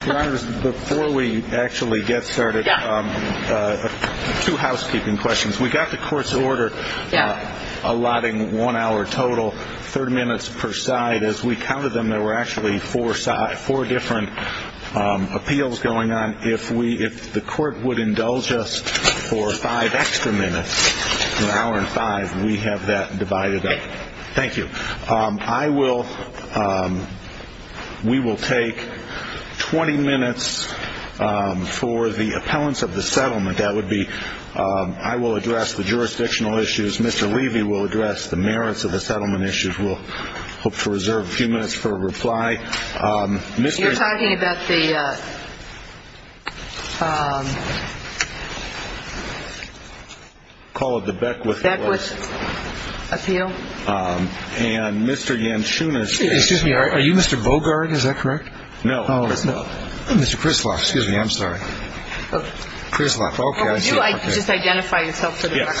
Before we actually get started, two housekeeping questions. We got the court's order allotting one hour total, 30 minutes per side. As we counted them, there were actually four different appeals going on. If the court would indulge us for five extra minutes, an hour and five, we have that divided up. Thank you. We will take 20 minutes for the appellants of the settlement. I will address the jurisdictional issues. Mr. Levy will address the merits of the settlement issues. We'll hope to reserve a few minutes for a reply. You're talking about the call of the Beckwith Appeal? Excuse me, are you Mr. Bogard? No. Mr. Krislav, excuse me, I'm sorry. Krislav, okay. Could you just identify yourself for the record? Yes. Does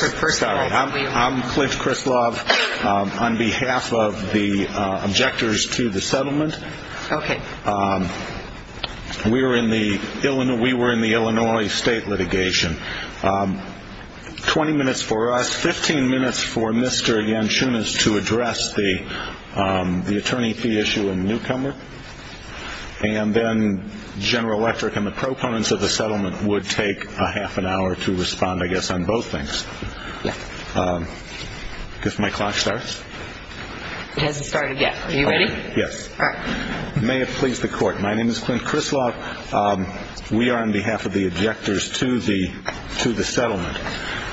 my clock start? It hasn't started yet. Are you ready? Yes. All right. May it please the court. My name is Clint Krislav. We are on behalf of the objectors to the settlement.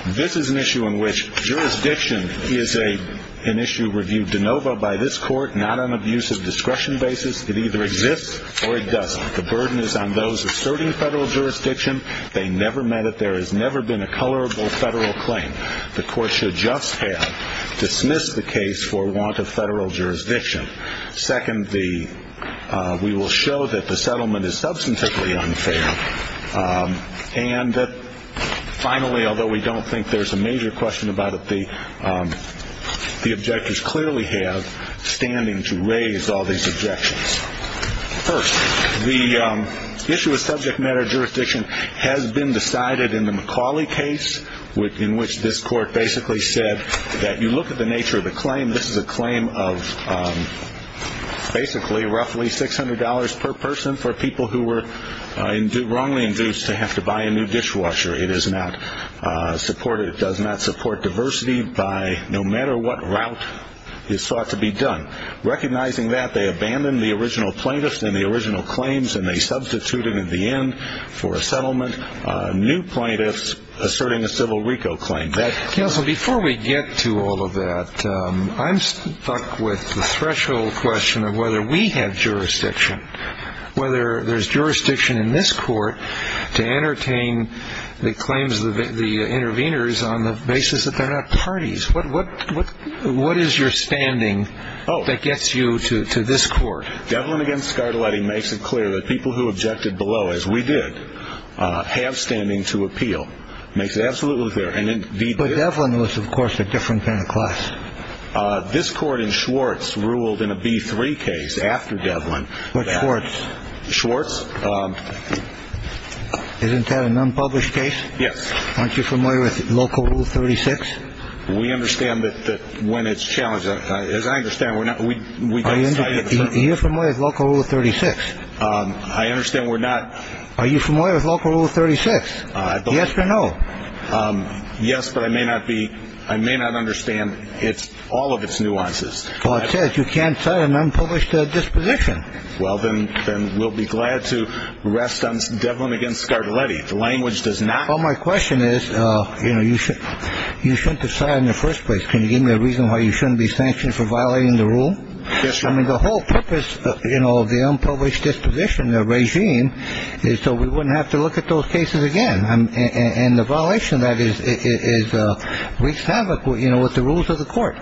This is an issue in which jurisdiction is an issue reviewed de novo by this court, not on abuse of discretion basis. It either exists or it doesn't. The burden is on those asserting federal jurisdiction. They never meant it. There has never been a colorable federal claim. The court should just have dismissed the case for want of federal jurisdiction. Second, we will show that the settlement is substantively unfair. And finally, although we don't think there's a major question about it, the objectors clearly have standing to raise all these objections. First, the issue of subject matter jurisdiction has been decided in the McCauley case in which this court basically said that you look at the nature of the claim, this is a claim of basically roughly $600 per person for people who were wrongly induced to have to buy a new dishwasher. It does not support diversity by no matter what route is thought to be done. Recognizing that, they abandoned the original plaintiffs and the original claims and they substituted at the end for a settlement, new plaintiffs asserting a civil RICO claim. Counsel, before we get to all of that, I'm stuck with the threshold question of whether we have jurisdiction, whether there's jurisdiction in this court to entertain the claims of the interveners on the basis that they're not parties. What is your standing that gets you to this court? Devlin against Scardelletti makes it clear that people who objected below, as we did, have standing to appeal. Makes it absolutely clear. And then Devlin was, of course, a different kind of class. This court in Schwartz ruled in a B3 case after Devlin. I understand we're not. Are you familiar with local rule 36? Yes or no? Yes, but I may not be. I may not understand. It's all of its nuances. Well, it says you can't sign an unpublished disposition. Well, then we'll be glad to rest on Devlin against Scardelletti. The language does not. Well, my question is, you know, you shouldn't decide in the first place. Can you give me a reason why you shouldn't be sanctioned for violating the rule? Yes, sir. I mean, the whole purpose, you know, of the unpublished disposition, the regime, is so we wouldn't have to look at those cases again. And the violation of that is wreaks havoc, you know, with the rules of the court.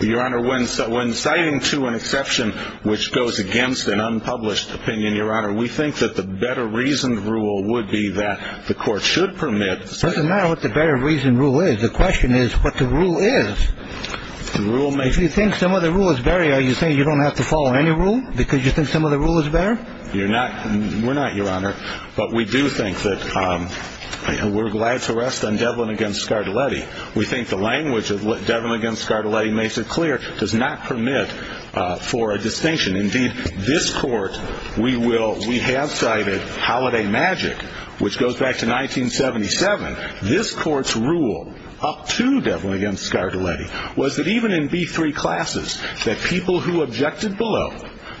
Your Honor, when citing to an exception which goes against an unpublished opinion, Your Honor, we think that the better reasoned rule would be that the court should permit. It doesn't matter what the better reasoned rule is. The question is what the rule is. If you think some of the rule is better, are you saying you don't have to follow any rule because you think some of the rule is better? We're not, Your Honor. But we do think that we're glad to rest on Devlin against Scardelletti. We think the language of Devlin against Scardelletti makes it clear, does not permit for a distinction. Indeed, this court, we have cited Holiday Magic, which goes back to 1977. This court's rule up to Devlin against Scardelletti was that even in B3 classes that people who objected below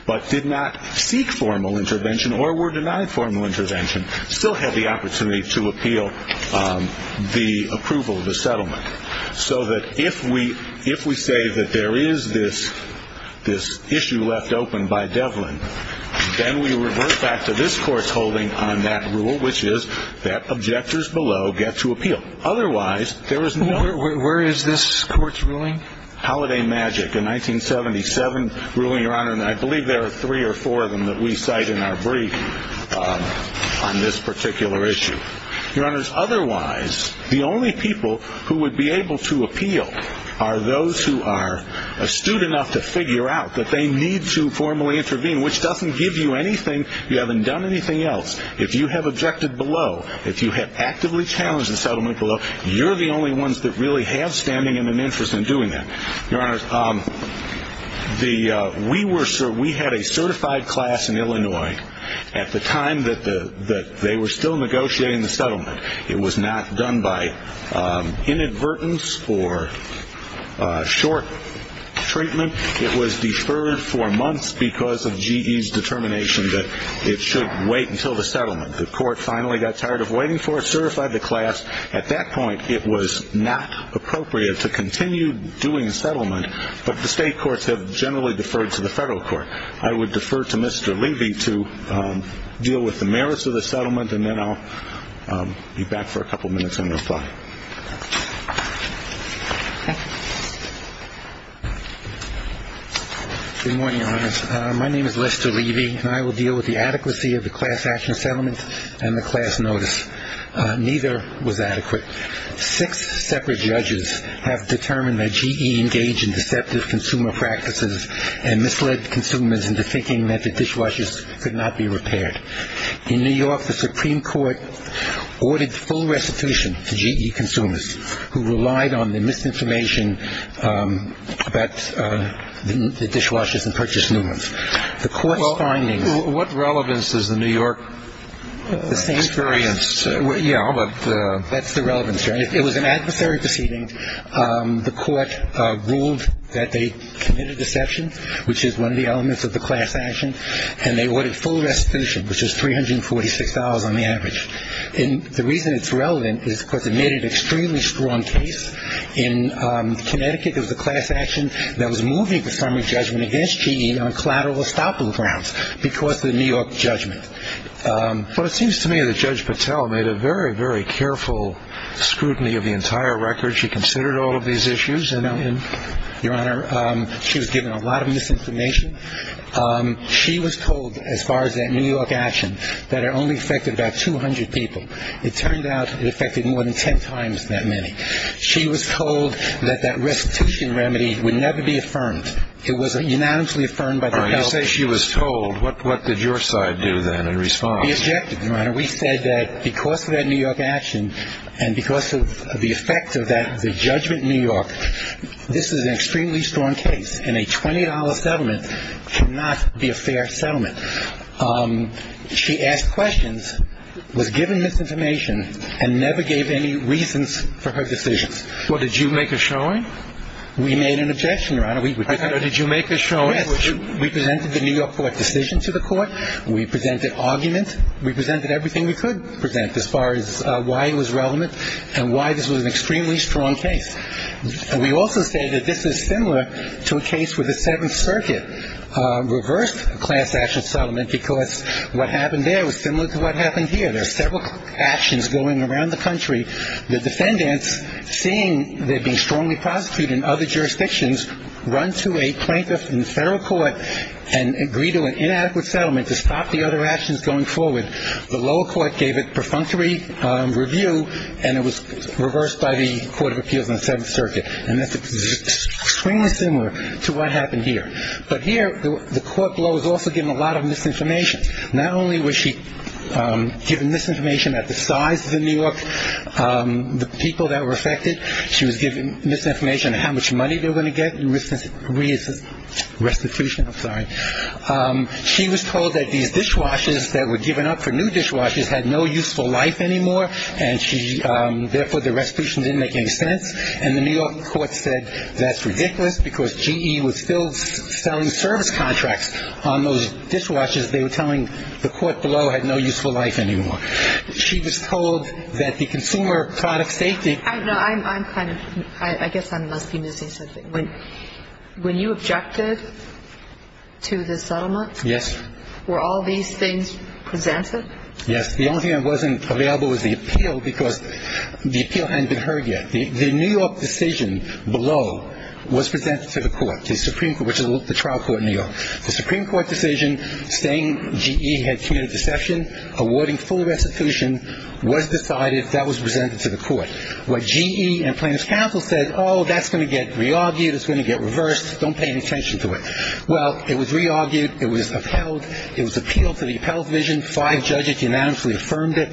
but did not seek formal intervention or were denied formal intervention still had the opportunity to appeal the approval of the settlement. So that if we say that there is this issue left open by Devlin, then we revert back to this court's holding on that rule, which is that objectors below get to appeal. Otherwise, there is no— Where is this court's ruling? Holiday Magic, a 1977 ruling, Your Honor, and I believe there are three or four of them that we cite in our brief on this particular issue. Your Honors, otherwise, the only people who would be able to appeal are those who are astute enough to figure out that they need to formally intervene, which doesn't give you anything. You haven't done anything else. If you have objected below, if you have actively challenged the settlement below, you're the only ones that really have standing and an interest in doing that. Your Honors, we had a certified class in Illinois at the time that they were still negotiating the settlement. It was not done by inadvertence or short treatment. It was deferred for months because of GE's determination that it should wait until the settlement. The court finally got tired of waiting for it, certified the class. At that point, it was not appropriate to continue doing the settlement, but the state courts have generally deferred to the federal court. I would defer to Mr. Levy to deal with the merits of the settlement, and then I'll be back for a couple minutes and reply. MR. LEVY. Good morning, Your Honors. My name is Lester Levy, and I will deal with the adequacy of the class action settlement and the class notice. Neither was adequate. Six separate judges have determined that GE engaged in deceptive consumer practices and misled consumers into thinking that the dishwashers could not be repaired. In New York, the Supreme Court ordered full restitution to GE consumers who relied on the misinformation about the dishwashers and purchase movements. The court's findings— And they ordered full restitution, which is $346 on the average. And the reason it's relevant is because it made an extremely strong case. In Connecticut, there was a class action that was moving the summary judgment against GE on collateral estoppel grounds because of the New York judgment. But it seems to me that Judge Patel made a very, very careful scrutiny of the entire record. She considered all of these issues, and— She was told that that restitution remedy would never be affirmed. It was unanimously affirmed by Judge Patel. You say she was told. What did your side do, then, in response? We objected, Your Honor. We said that because of that New York action and because of the effect of that judgment in New York, this is an extremely strong case, and a $20 settlement cannot be a fair settlement. She asked questions, was given misinformation, and never gave any reasons for her decisions. Well, did you make a showing? We made an objection, Your Honor. I thought you made a showing. Yes. We presented the New York court decision to the court. We presented arguments. We presented everything we could present as far as why it was relevant and why this was an extremely strong case. We also say that this is similar to a case where the Seventh Circuit reversed a class-action settlement because what happened there was similar to what happened here. There are several actions going around the country. The defendants, seeing they're being strongly prosecuted in other jurisdictions, run to a plaintiff in the federal court and agree to an inadequate settlement to stop the other actions going forward. The lower court gave a perfunctory review, and it was reversed by the Court of Appeals in the Seventh Circuit. And that's extremely similar to what happened here. But here, the court below was also given a lot of misinformation. Not only was she given misinformation about the size of New York, the people that were affected. She was given misinformation on how much money they were going to get in restitution. She was told that these dishwashers that were given up for new dishwashers had no useful life anymore, and therefore the restitution didn't make any sense. And the New York court said that's ridiculous because GE was still selling service contracts on those dishwashers. They were telling the court below had no useful life anymore. She was told that the consumer product safety. I'm kind of, I guess I must be missing something. When you objected to the settlement. Yes. Were all these things presented? Yes. The only thing that wasn't available was the appeal because the appeal hadn't been heard yet. The New York decision below was presented to the court, to the Supreme Court, which is the trial court in New York. The Supreme Court decision saying GE had committed deception, awarding full restitution was decided. That was presented to the court. What GE and plaintiff's counsel said, oh, that's going to get re-argued. It's going to get reversed. Don't pay any attention to it. Well, it was re-argued. It was upheld. It was appealed to the appellate division. Five judges unanimously affirmed it.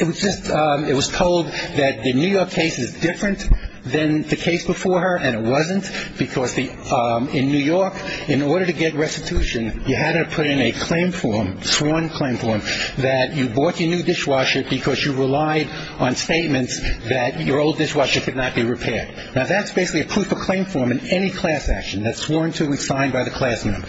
It was just, it was told that the New York case is different than the case before her, and it wasn't. Because in New York, in order to get restitution, you had to put in a claim form, sworn claim form, that you bought your new dishwasher because you relied on statements that your old dishwasher could not be repaired. Now, that's basically a proof of claim form in any class action. That's sworn to and signed by the class member.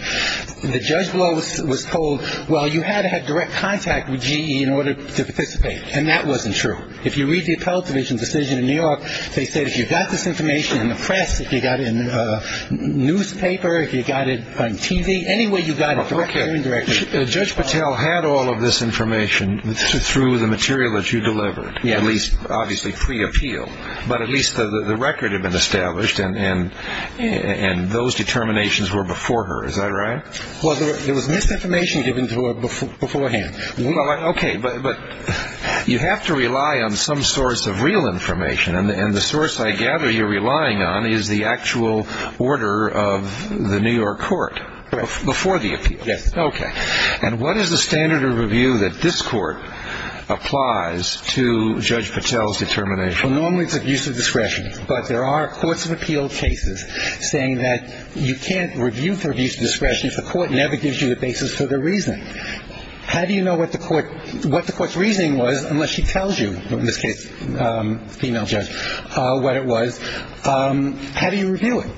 The judge below was told, well, you had to have direct contact with GE in order to participate. And that wasn't true. If you read the appellate division decision in New York, they said if you got this information in the press, if you got it in the newspaper, if you got it on TV, any way you got it, you're indirectly involved. Judge Patel had all of this information through the material that you delivered, at least obviously pre-appeal. But at least the record had been established, and those determinations were before her. Is that right? Well, there was misinformation given to her beforehand. Okay. But you have to rely on some source of real information, and the source I gather you're relying on is the actual order of the New York court before the appeal. Yes. Okay. And what is the standard of review that this court applies to Judge Patel's determination? Well, normally it's abuse of discretion. But there are courts of appeal cases saying that you can't review for abuse of discretion if the court never gives you the basis for their reasoning. How do you know what the court's reasoning was unless she tells you, in this case, female judge, what it was? How do you review it?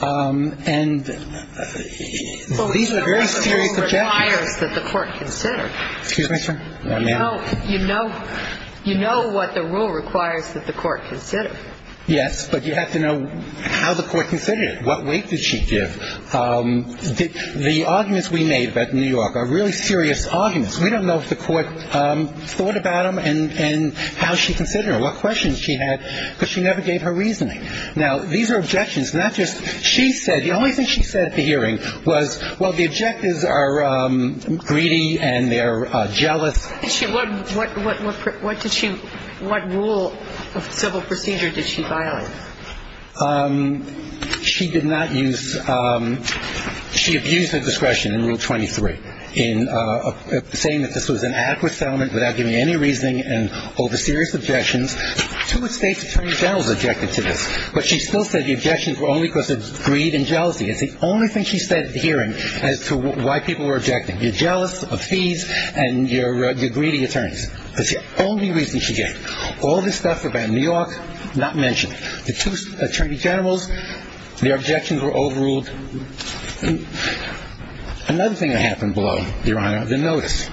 And these are very serious objections. Well, you know what the rule requires that the court consider. Excuse me, sir? May I? You know what the rule requires that the court consider. Yes, but you have to know how the court considered it. What weight did she give? The arguments we made about New York are really serious arguments. We don't know if the court thought about them and how she considered them, what questions she had, because she never gave her reasoning. Now, these are objections, not just she said. The only thing she said at the hearing was, well, the objectives are greedy and they're jealous. What did she – what rule of civil procedure did she violate? She did not use – she abused her discretion in Rule 23 in saying that this was an adequate settlement without giving any reasoning and over serious objections. Too much State's attorney general has objected to this. But she still said the objections were only because of greed and jealousy. It's the only thing she said at the hearing as to why people were objecting. You're jealous of fees and you're greedy attorneys. That's the only reason she gave. All this stuff about New York, not mentioned. The two attorney generals, their objections were overruled. Another thing that happened below, Your Honor, the notice.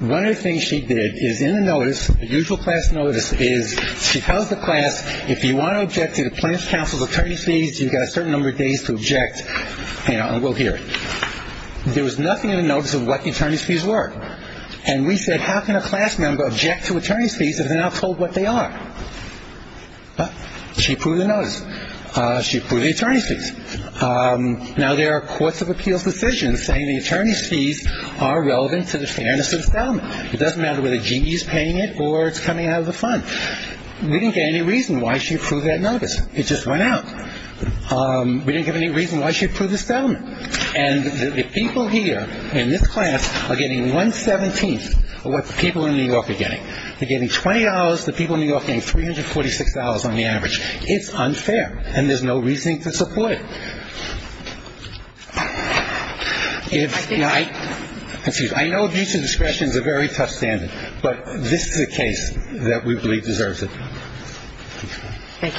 One of the things she did is in the notice, the usual class notice, is she tells the class, if you want to object to the Planned Parenthood Council's attorney fees, you've got a certain number of days to object and we'll hear it. There was nothing in the notice of what the attorney's fees were. And we said, how can a class member object to attorney's fees if they're not told what they are? She approved the notice. She approved the attorney's fees. Now, there are courts of appeals decisions saying the attorney's fees are relevant to the fairness of the settlement. It doesn't matter whether GE is paying it or it's coming out of the fund. We didn't get any reason why she approved that notice. It just went out. We didn't get any reason why she approved the settlement. And the people here in this class are getting one-seventeenth of what the people in New York are getting. They're getting $20. The people in New York are getting $346 on the average. It's unfair. And there's no reason to support it. If you're not – excuse me. I know abuse of discretion is a very tough standard, but this is a case that we believe deserves it. Thank you.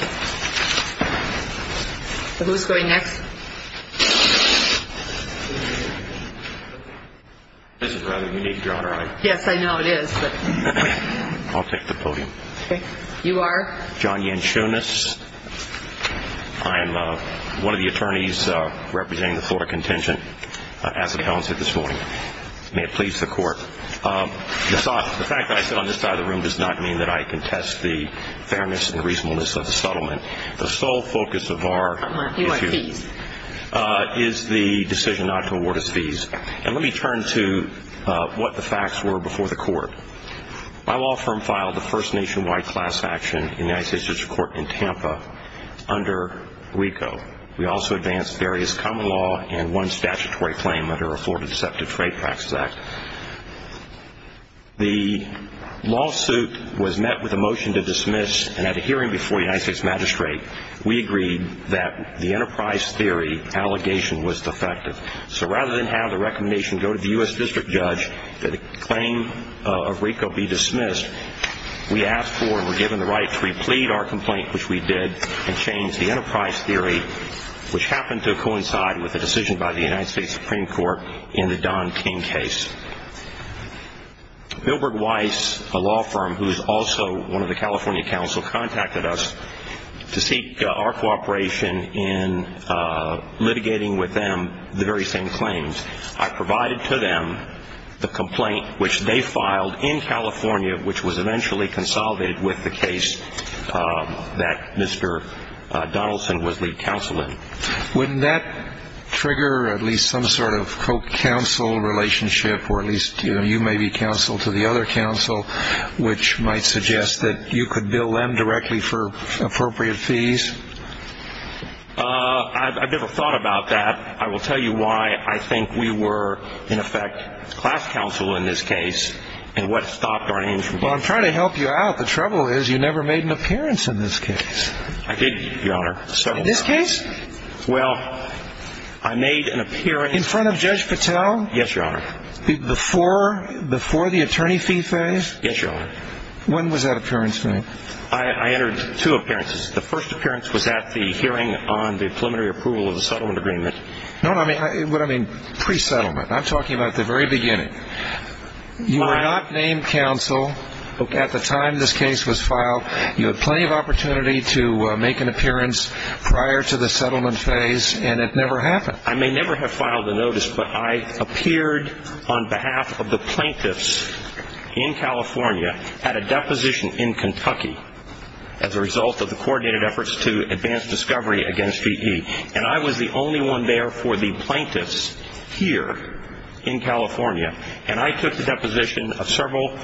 So who's going next? This is rather unique, Your Honor. Yes, I know it is. I'll take the podium. Okay. You are? John Yanchonis. I am one of the attorneys representing the Florida contingent as appellants here this morning. May it please the court. The fact that I sit on this side of the room does not mean that I contest the fairness and reasonableness of the settlement. The sole focus of our issue is the decision not to award us fees. And let me turn to what the facts were before the court. My law firm filed the first nationwide class action in the United States District Court in Tampa under WECO. We also advanced various common law and one statutory claim under a Florida Deceptive Trade Practices Act. The lawsuit was met with a motion to dismiss, and at a hearing before the United States Magistrate, we agreed that the enterprise theory allegation was defective. So rather than have the recommendation go to the U.S. District Judge that a claim of WECO be dismissed, we asked for and were given the right to replead our complaint, which we did, and change the enterprise theory, which happened to coincide with a decision by the United States Supreme Court in the Don King case. Bilberg Weiss, a law firm who is also one of the California counsel, contacted us to seek our cooperation in litigating with them the very same claims. I provided to them the complaint which they filed in California, which was eventually consolidated with the case that Mr. Donaldson was lead counsel in. Would that trigger at least some sort of co-counsel relationship, or at least you may be counsel to the other counsel, which might suggest that you could bill them directly for appropriate fees? I've never thought about that. But I will tell you why I think we were, in effect, class counsel in this case, and what stopped our name from being. I'm trying to help you out. The trouble is you never made an appearance in this case. I did, Your Honor. In this case? Well, I made an appearance. In front of Judge Patel? Yes, Your Honor. Before the attorney fee phase? Yes, Your Honor. When was that appearance made? I entered two appearances. The first appearance was at the hearing on the preliminary approval of the settlement agreement. No, what I mean, pre-settlement. I'm talking about the very beginning. You were not named counsel at the time this case was filed. You had plenty of opportunity to make an appearance prior to the settlement phase, and it never happened. I may never have filed a notice, but I appeared on behalf of the plaintiffs in California, had a deposition in Kentucky as a result of the coordinated efforts to advance discovery against GE, and I was the only one there for the plaintiffs here in California, and I took the deposition of several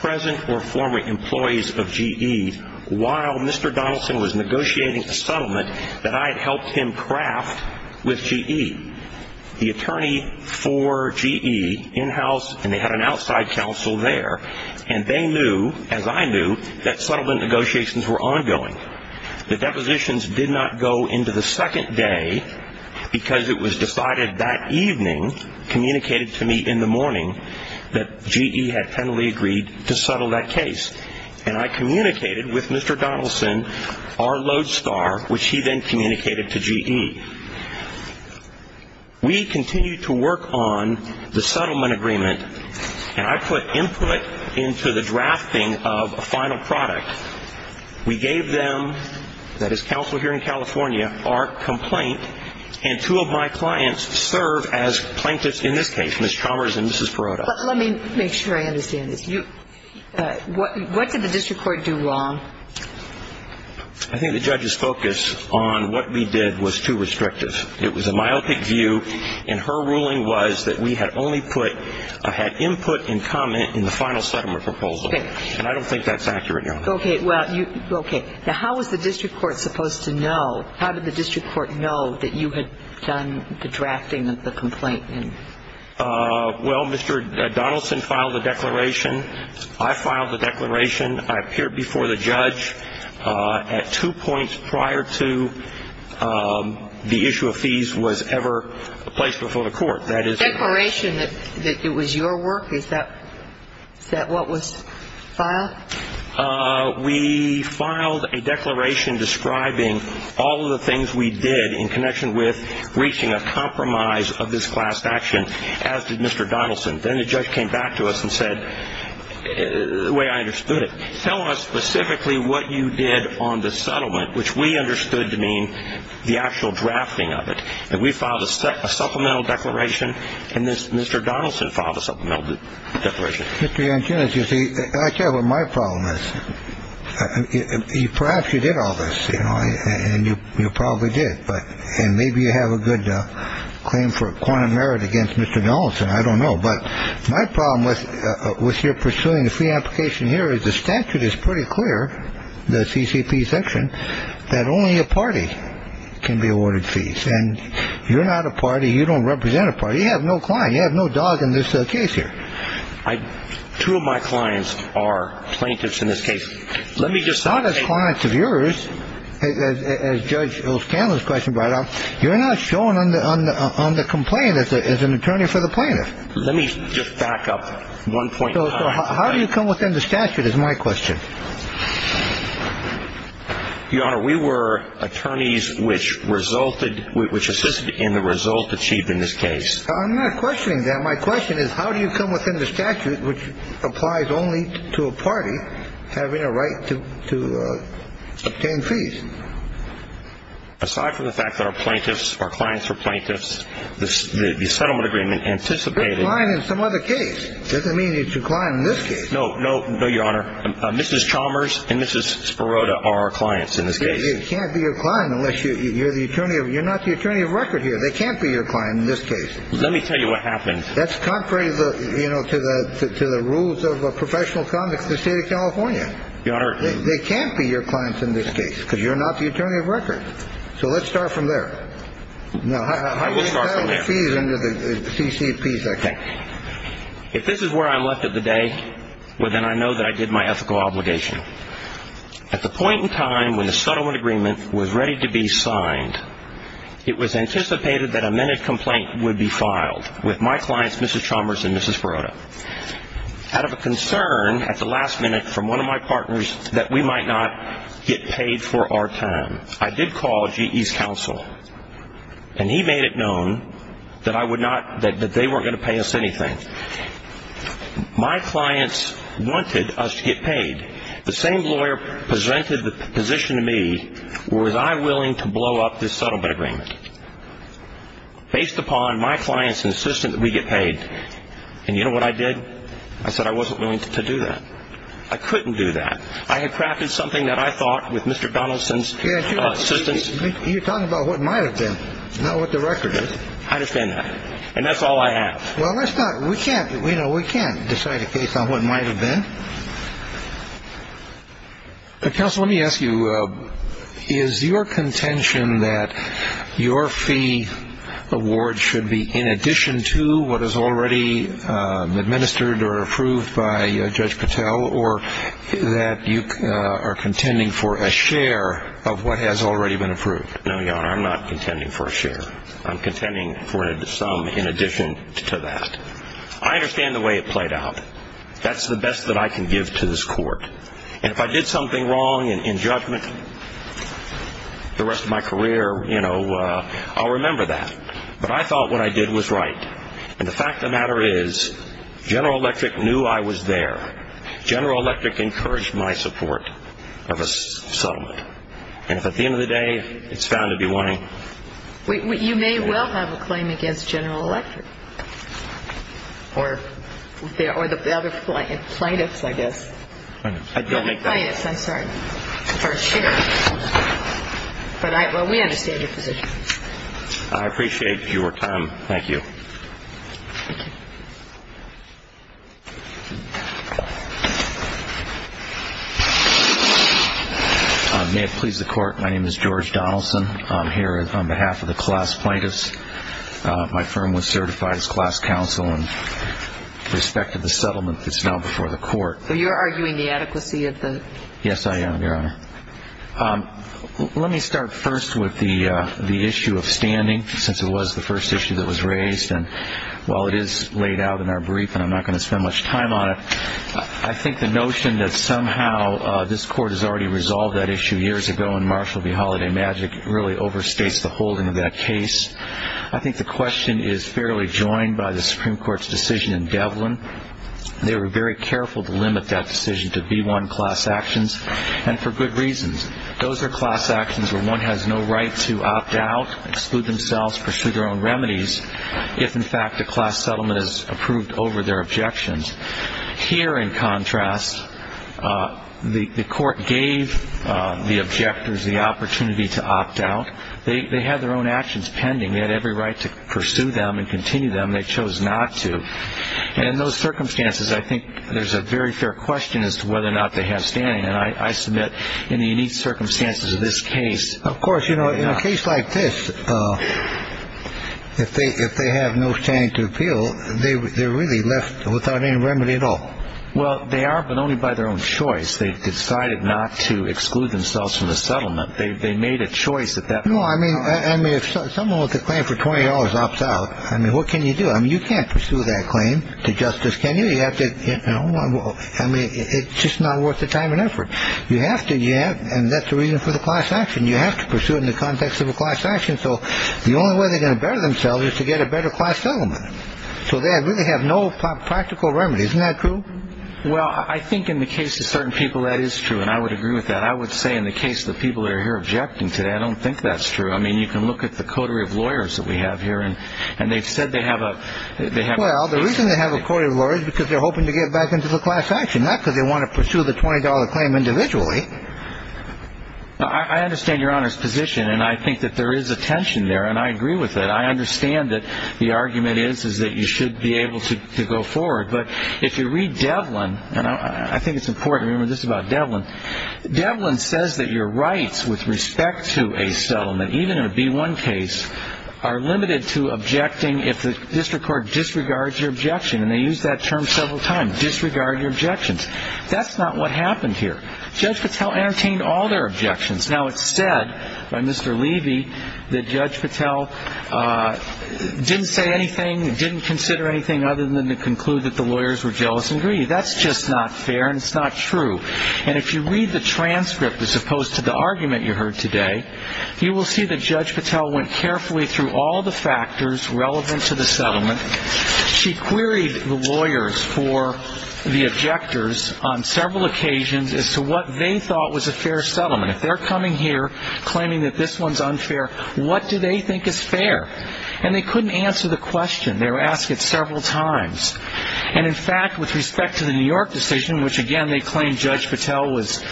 present or former employees of GE while Mr. Donaldson was negotiating a settlement that I had helped him craft with GE. The attorney for GE in-house, and they had an outside counsel there, and they knew, as I knew, that settlement negotiations were ongoing. The depositions did not go into the second day because it was decided that evening, communicated to me in the morning, that GE had finally agreed to settle that case, and I communicated with Mr. Donaldson, our lodestar, which he then communicated to GE. We continued to work on the settlement agreement, and I put input into the drafting of a final product. We gave them, that is counsel here in California, our complaint, and two of my clients serve as plaintiffs in this case, Ms. Chalmers and Mrs. Perrotta. Let me make sure I understand this. What did the district court do wrong? I think the judge's focus on what we did was too restrictive. It was a myopic view, and her ruling was that we had only put, had input and comment in the final settlement proposal, and I don't think that's accurate, Your Honor. Okay. Now, how was the district court supposed to know, how did the district court know that you had done the drafting of the complaint? Well, Mr. Donaldson filed the declaration. I filed the declaration. I appeared before the judge at two points prior to the issue of fees was ever placed before the court. The declaration that it was your work, is that what was filed? We filed a declaration describing all of the things we did in connection with reaching a compromise of this class action, as did Mr. Donaldson. Then the judge came back to us and said, the way I understood it, tell us specifically what you did on the settlement, which we understood to mean the actual drafting of it. And we filed a supplemental declaration, and Mr. Donaldson filed a supplemental declaration. Mr. Yankunis, you see, I tell you what my problem is. Perhaps you did all this, you know, and you probably did. But maybe you have a good claim for quantum merit against Mr. Donaldson. I don't know. But my problem with your pursuing a free application here is the statute is pretty clear, the CCP section, that only a party can be awarded fees. And you're not a party. You don't represent a party. You have no client. You have no dog in this case here. Two of my clients are plaintiffs in this case. Let me just say. Not as clients of yours, as Judge O'Scanlon's question brought up. You're not shown on the complaint as an attorney for the plaintiff. Let me just back up one point. How do you come within the statute is my question. Your Honor, we were attorneys which resulted, which assisted in the result achieved in this case. I'm not questioning that. My question is, how do you come within the statute which applies only to a party having a right to obtain fees? Aside from the fact that our plaintiffs, our clients are plaintiffs, the settlement agreement anticipated. You're a client in some other case. Doesn't mean you're a client in this case. No, no, no, Your Honor. Mrs. Chalmers and Mrs. Sparota are our clients in this case. They can't be your client unless you're the attorney. You're not the attorney of record here. They can't be your client in this case. Let me tell you what happened. That's contrary to the rules of professional conduct in the state of California. Your Honor. They can't be your clients in this case because you're not the attorney of record. So let's start from there. I will start from there. How do you settle fees under the CCP section? If this is where I left it today, well, then I know that I did my ethical obligation. At the point in time when the settlement agreement was ready to be signed, it was anticipated that a minute complaint would be filed with my clients, Mrs. Chalmers and Mrs. Sparota, out of a concern at the last minute from one of my partners that we might not get paid for our time. I did call GE's counsel, and he made it known that they weren't going to pay us anything. My clients wanted us to get paid. The same lawyer presented the position to me. Was I willing to blow up this settlement agreement based upon my client's insistence that we get paid? And you know what I did? I said I wasn't willing to do that. I couldn't do that. I had crafted something that I thought with Mr. Donaldson's assistance. You're talking about what might have been, not what the record is. I understand that. And that's all I have. Well, we can't decide a case on what might have been. Counsel, let me ask you. Is your contention that your fee award should be in addition to what is already administered or approved by Judge Patel, or that you are contending for a share of what has already been approved? No, Your Honor, I'm not contending for a share. I'm contending for some in addition to that. I understand the way it played out. That's the best that I can give to this court. And if I did something wrong in judgment the rest of my career, you know, I'll remember that. But I thought what I did was right. And the fact of the matter is General Electric knew I was there. General Electric encouraged my support of a settlement. And if, at the end of the day, it's found to be wanting. You may well have a claim against General Electric. Or the other plaintiffs, I guess. Plaintiffs. Plaintiffs, I'm sorry. For a share. But we understand your position. I appreciate your time. Thank you. Thank you. May it please the Court, my name is George Donaldson. I'm here on behalf of the class plaintiffs. My firm was certified as class counsel in respect to the settlement that's now before the court. So you're arguing the adequacy of the? Yes, I am, Your Honor. Let me start first with the issue of standing, since it was the first issue that was raised. And while it is laid out in our brief, and I'm not going to spend much time on it, I think the notion that somehow this court has already resolved that issue years ago in Marshall v. Holiday Magic really overstates the holding of that case. I think the question is fairly joined by the Supreme Court's decision in Devlin. They were very careful to limit that decision to B-1 class actions, and for good reasons. Those are class actions where one has no right to opt out, exclude themselves, pursue their own remedies. If, in fact, a class settlement is approved over their objections. Here, in contrast, the court gave the objectors the opportunity to opt out. They had their own actions pending. They had every right to pursue them and continue them. They chose not to. And in those circumstances, I think there's a very fair question as to whether or not they have standing. And I submit in the unique circumstances of this case. Of course, in a case like this, if they have no standing to appeal, they're really left without any remedy at all. Well, they are, but only by their own choice. They've decided not to exclude themselves from the settlement. They made a choice at that point. No, I mean, if someone with a claim for $20 opts out, I mean, what can you do? I mean, you can't pursue that claim to justice, can you? I mean, it's just not worth the time and effort. You have to. You have. And that's the reason for the class action. You have to pursue it in the context of a class action. So the only way they're going to better themselves is to get a better class settlement. So they really have no practical remedy. Isn't that true? Well, I think in the case of certain people, that is true. And I would agree with that. I would say in the case of the people that are here objecting today, I don't think that's true. I mean, you can look at the coterie of lawyers that we have here. And they've said they have a they have. Well, the reason they have a court of lawyers because they're hoping to get back into the class action, not because they want to pursue the $20 claim individually. I understand Your Honor's position. And I think that there is a tension there. And I agree with that. I understand that the argument is that you should be able to go forward. But if you read Devlin, and I think it's important to remember this about Devlin, Devlin says that your rights with respect to a settlement, even in a B-1 case, are limited to objecting if the district court disregards your objection. And they use that term several times, disregard your objections. That's not what happened here. Judge Patel entertained all their objections. Now, it's said by Mr. Levy that Judge Patel didn't say anything, didn't consider anything other than to conclude that the lawyers were jealous and greedy. That's just not fair, and it's not true. And if you read the transcript as opposed to the argument you heard today, you will see that Judge Patel went carefully through all the factors relevant to the settlement. She queried the lawyers for the objectors on several occasions as to what they thought was a fair settlement. If they're coming here claiming that this one's unfair, what do they think is fair? And they couldn't answer the question. They were asked it several times. And, in fact, with respect to the New York decision, which, again, they claimed Judge Patel was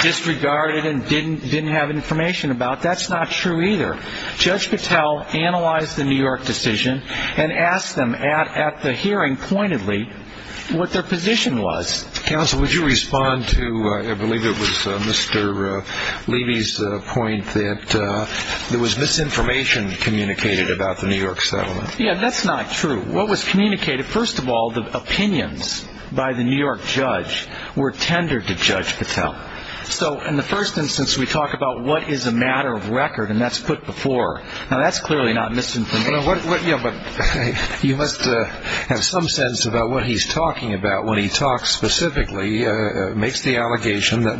disregarded and didn't have information about, that's not true either. Judge Patel analyzed the New York decision and asked them at the hearing pointedly what their position was. Counsel, would you respond to, I believe it was Mr. Levy's point, that there was misinformation communicated about the New York settlement? Yeah, that's not true. What was communicated, first of all, the opinions by the New York judge were tendered to Judge Patel. So, in the first instance, we talk about what is a matter of record, and that's put before. Now, that's clearly not misinformation. Yeah, but you must have some sense about what he's talking about when he talks specifically, makes the allegation that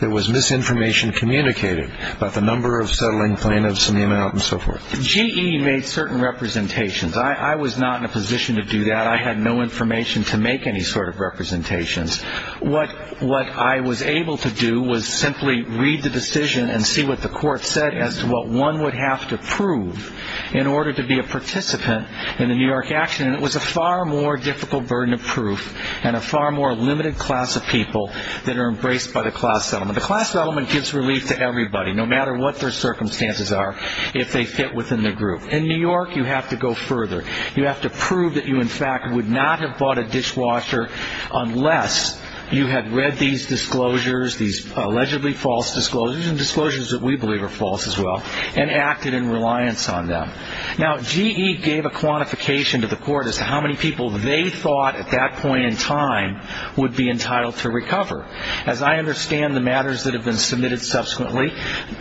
there was misinformation communicated about the number of settling plaintiffs and the amount and so forth. GE made certain representations. I was not in a position to do that. I had no information to make any sort of representations. What I was able to do was simply read the decision and see what the court said as to what one would have to prove in order to be a participant in the New York action, and it was a far more difficult burden of proof and a far more limited class of people that are embraced by the class settlement. The class settlement gives relief to everybody, no matter what their circumstances are, if they fit within the group. In New York, you have to go further. You have to prove that you, in fact, would not have bought a dishwasher unless you had read these disclosures, these allegedly false disclosures, and disclosures that we believe are false as well, and acted in reliance on them. Now, GE gave a quantification to the court as to how many people they thought at that point in time would be entitled to recover. As I understand the matters that have been submitted subsequently,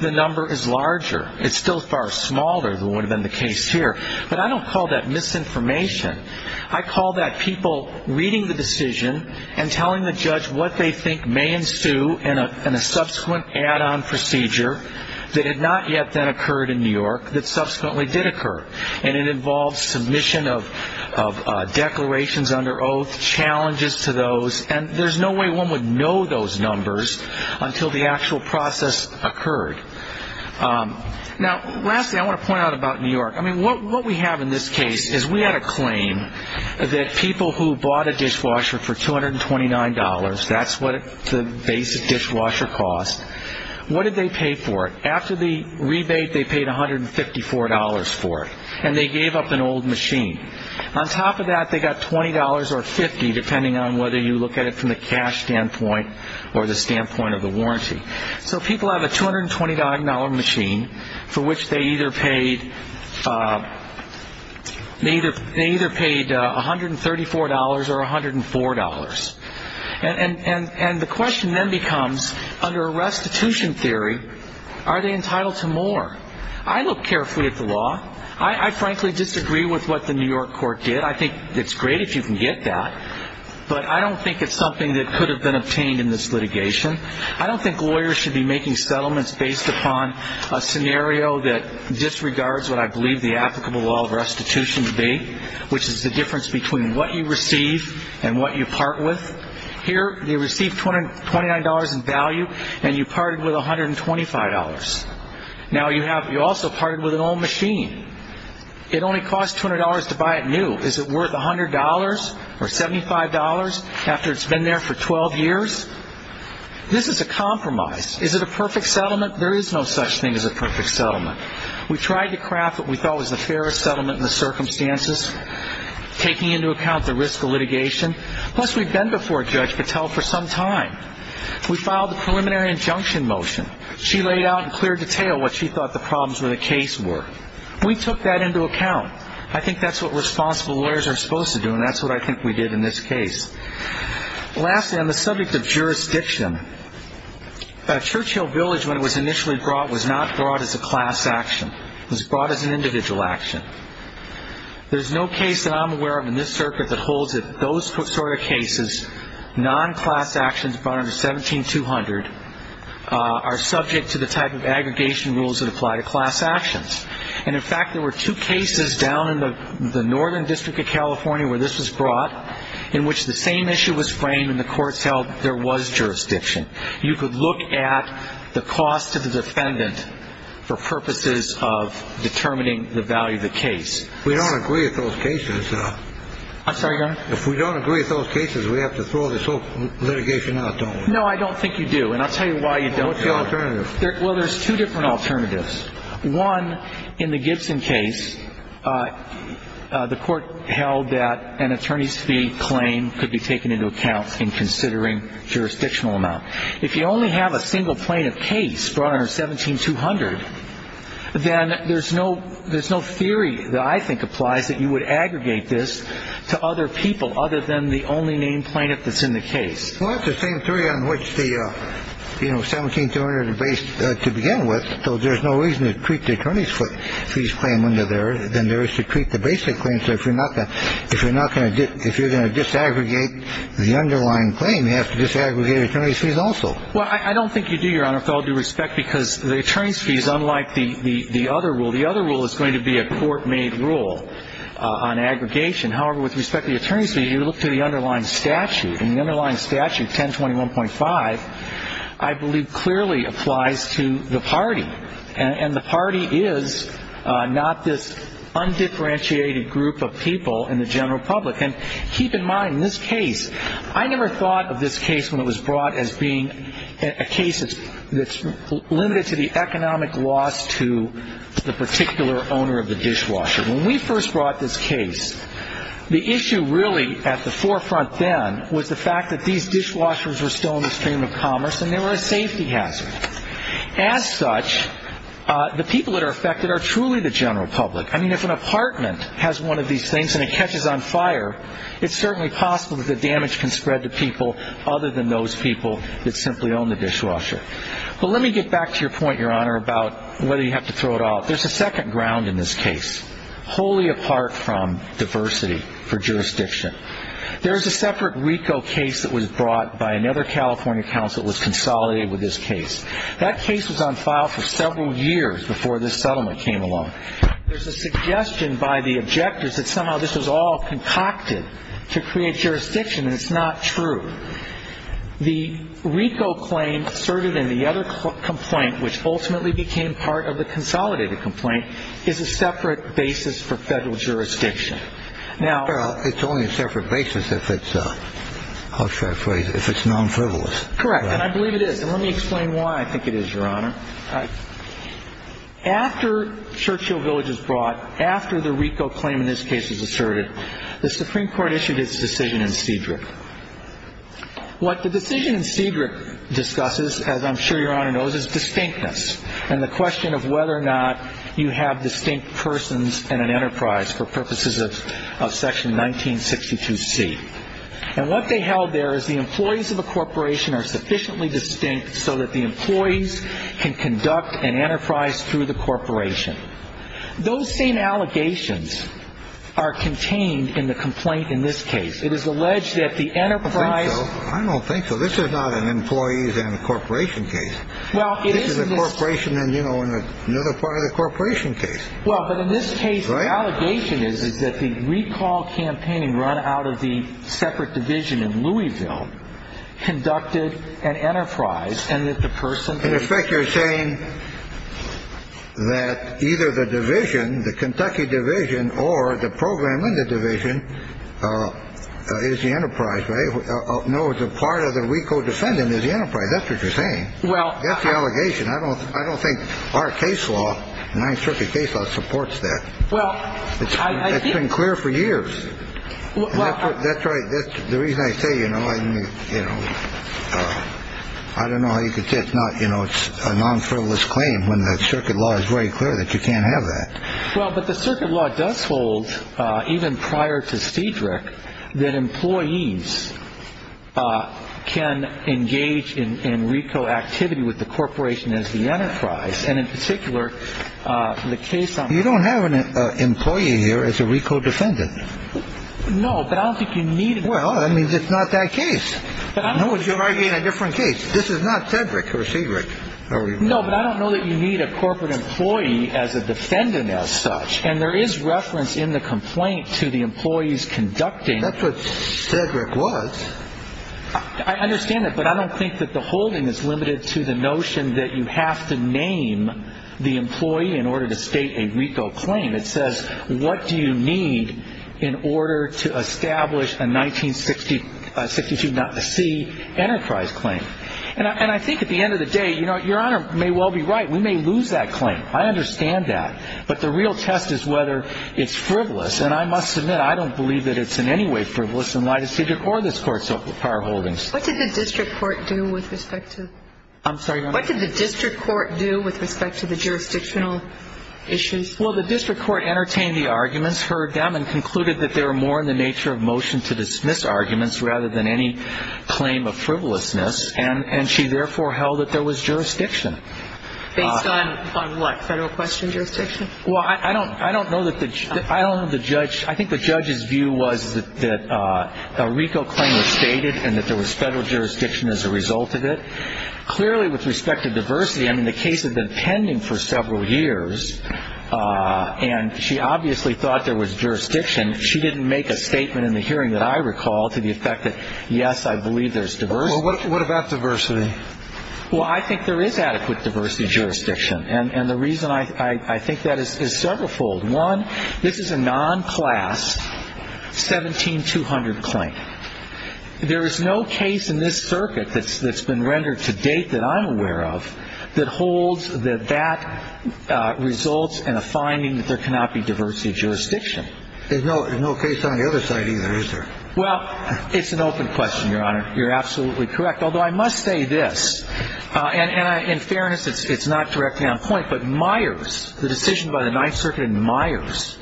the number is larger. It's still far smaller than would have been the case here. But I don't call that misinformation. I call that people reading the decision and telling the judge what they think may ensue in a subsequent add-on procedure that had not yet then occurred in New York, that subsequently did occur. And it involves submission of declarations under oath, challenges to those, and there's no way one would know those numbers until the actual process occurred. Now, lastly, I want to point out about New York. I mean, what we have in this case is we had a claim that people who bought a dishwasher for $229, that's what the basic dishwasher cost, what did they pay for it? After the rebate, they paid $154 for it, and they gave up an old machine. On top of that, they got $20 or $50, depending on whether you look at it from the cash standpoint or the standpoint of the warranty. So people have a $229 machine for which they either paid $134 or $104. And the question then becomes, under a restitution theory, are they entitled to more? I look carefully at the law. I frankly disagree with what the New York court did. I think it's great if you can get that. But I don't think it's something that could have been obtained in this litigation. I don't think lawyers should be making settlements based upon a scenario that disregards what I believe the applicable law of restitution to be, which is the difference between what you receive and what you part with. Here, you receive $229 in value, and you parted with $125. Now, you also parted with an old machine. It only cost $200 to buy it new. Is it worth $100 or $75 after it's been there for 12 years? This is a compromise. Is it a perfect settlement? There is no such thing as a perfect settlement. We tried to craft what we thought was the fairest settlement in the circumstances, taking into account the risk of litigation. Plus, we've been before Judge Patel for some time. We filed the preliminary injunction motion. She laid out in clear detail what she thought the problems with the case were. We took that into account. I think that's what responsible lawyers are supposed to do, and that's what I think we did in this case. Lastly, on the subject of jurisdiction, Churchill Village, when it was initially brought, was not brought as a class action. It was brought as an individual action. There's no case that I'm aware of in this circuit that holds that those sort of cases, non-class actions brought under 17-200, are subject to the type of aggregation rules that apply to class actions. And, in fact, there were two cases down in the Northern District of California where this was brought in which the same issue was framed and the courts held there was jurisdiction. You could look at the cost to the defendant for purposes of determining the value of the case. We don't agree with those cases. I'm sorry, Your Honor? If we don't agree with those cases, we have to throw this whole litigation out, don't we? No, I don't think you do, and I'll tell you why you don't. What's the alternative? Well, there's two different alternatives. One, in the Gibson case, the court held that an attorney's fee claim could be taken into account in considering jurisdictional amount. If you only have a single plaintiff case brought under 17-200, then there's no theory that I think applies that you would aggregate this to other people other than the only named plaintiff that's in the case. Well, that's the same theory on which the 17-200 is based to begin with. So there's no reason to treat the attorney's fees claim under there than there is to treat the basic claim. So if you're not going to do it, if you're going to disaggregate the underlying claim, you have to disaggregate attorney's fees also. Well, I don't think you do, Your Honor, with all due respect, because the attorney's fee is unlike the other rule. The other rule is going to be a court-made rule on aggregation. However, with respect to the attorney's fee, you look to the underlying statute. And the underlying statute, 1021.5, I believe clearly applies to the party. And the party is not this undifferentiated group of people in the general public. And keep in mind, this case, I never thought of this case when it was brought as being a case that's limited to the economic loss to the particular owner of the dishwasher. When we first brought this case, the issue really at the forefront then was the fact that these dishwashers were still in the stream of commerce and they were a safety hazard. As such, the people that are affected are truly the general public. I mean, if an apartment has one of these things and it catches on fire, it's certainly possible that the damage can spread to people other than those people that simply own the dishwasher. But let me get back to your point, Your Honor, about whether you have to throw it out. There's a second ground in this case, wholly apart from diversity for jurisdiction. There is a separate RICO case that was brought by another California counsel that was consolidated with this case. That case was on file for several years before this settlement came along. There's a suggestion by the objectors that somehow this was all concocted to create jurisdiction, and it's not true. The RICO claim asserted in the other complaint, which ultimately became part of the consolidated complaint, is a separate basis for federal jurisdiction. Now, it's only a separate basis if it's, I'll share a phrase, if it's non-frivolous. Correct, and I believe it is. And let me explain why I think it is, Your Honor. After Churchill Village was brought, after the RICO claim in this case was asserted, the Supreme Court issued its decision in Cedric. What the decision in Cedric discusses, as I'm sure Your Honor knows, is distinctness and the question of whether or not you have distinct persons in an enterprise for purposes of Section 1962C. And what they held there is the employees of a corporation are sufficiently distinct so that the employees can conduct an enterprise through the corporation. Those same allegations are contained in the complaint in this case. It is alleged that the enterprise – I don't think so. I don't think so. This is not an employees and corporation case. Well, it is in this – This is a corporation and, you know, another part of the corporation case. Well, but in this case, the allegation is that the recall campaign run out of the separate division in Louisville conducted an enterprise and that the person – In effect, you're saying that either the division, the Kentucky division or the program in the division is the enterprise, right? No, it's a part of the RICO defendant is the enterprise. That's what you're saying. Well – That's the allegation. I don't think our case law, the Ninth Circuit case law, supports that. Well – It's been clear for years. That's right. The reason I say, you know, I don't know how you could say it's not – You know, it's a non-frivolous claim when the circuit law is very clear that you can't have that. Well, but the circuit law does hold, even prior to Cedric, that employees can engage in RICO activity with the corporation as the enterprise. And in particular, the case on – You don't have an employee here as a RICO defendant. No, but I don't think you need – Well, I mean, it's not that case. You might be in a different case. This is not Cedric or Cedric. No, but I don't know that you need a corporate employee as a defendant as such. And there is reference in the complaint to the employees conducting – That's what Cedric was. I understand that. But I don't think that the holding is limited to the notion that you have to name the employee in order to state a RICO claim. It says, what do you need in order to establish a 1962 not-to-see enterprise claim? And I think at the end of the day, you know, Your Honor may well be right. We may lose that claim. I understand that. But the real test is whether it's frivolous. And I must admit, I don't believe that it's in any way frivolous in light of Cedric or this Court's power holdings. What did the district court do with respect to – I'm sorry, Your Honor. What did the district court do with respect to the jurisdictional issues? Well, the district court entertained the arguments, heard them, and concluded that they were more in the nature of motion to dismiss arguments rather than any claim of frivolousness. And she therefore held that there was jurisdiction. Based on what, federal question jurisdiction? Well, I don't know that the – I don't know the judge – I think the judge's view was that a RICO claim was stated and that there was federal jurisdiction as a result of it. Clearly, with respect to diversity, I mean, the case had been pending for several years, and she obviously thought there was jurisdiction. She didn't make a statement in the hearing that I recall to the effect that, yes, I believe there's diversity. Well, what about diversity? Well, I think there is adequate diversity jurisdiction, and the reason I think that is severalfold. One, this is a non-class 17200 claim. There is no case in this circuit that's been rendered to date that I'm aware of that holds that that results in a finding that there cannot be diversity of jurisdiction. There's no case on the other side either, is there? Well, it's an open question, Your Honor. You're absolutely correct, although I must say this, and in fairness, it's not directly on point, but Myers, the decision by the Ninth Circuit in Myers,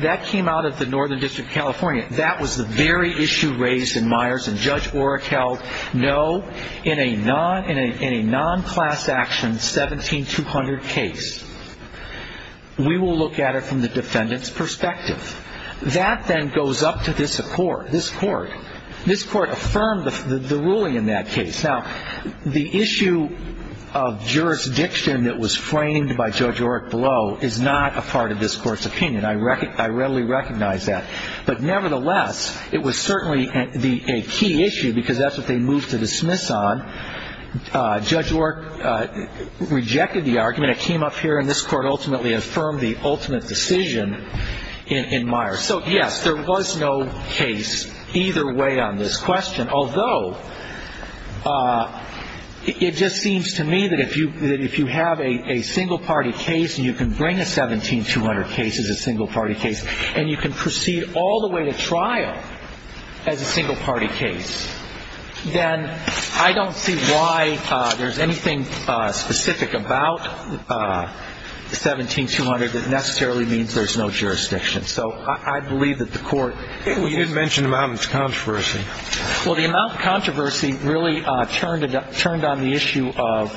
that came out of the Northern District of California. That was the very issue raised in Myers, and Judge Oreck held no, in a non-class action 17200 case. We will look at it from the defendant's perspective. That then goes up to this court. This court affirmed the ruling in that case. Now, the issue of jurisdiction that was framed by Judge Oreck below is not a part of this court's opinion. I readily recognize that. But nevertheless, it was certainly a key issue because that's what they moved to dismiss on. Judge Oreck rejected the argument. It came up here, and this court ultimately affirmed the ultimate decision in Myers. So, yes, there was no case either way on this question, although it just seems to me that if you have a single-party case and you can bring a 17200 case as a single-party case and you can proceed all the way to trial as a single-party case, then I don't see why there's anything specific about 17200 that necessarily means there's no jurisdiction. So I believe that the court ---- You did mention the amount of controversy. Well, the amount of controversy really turned on the issue of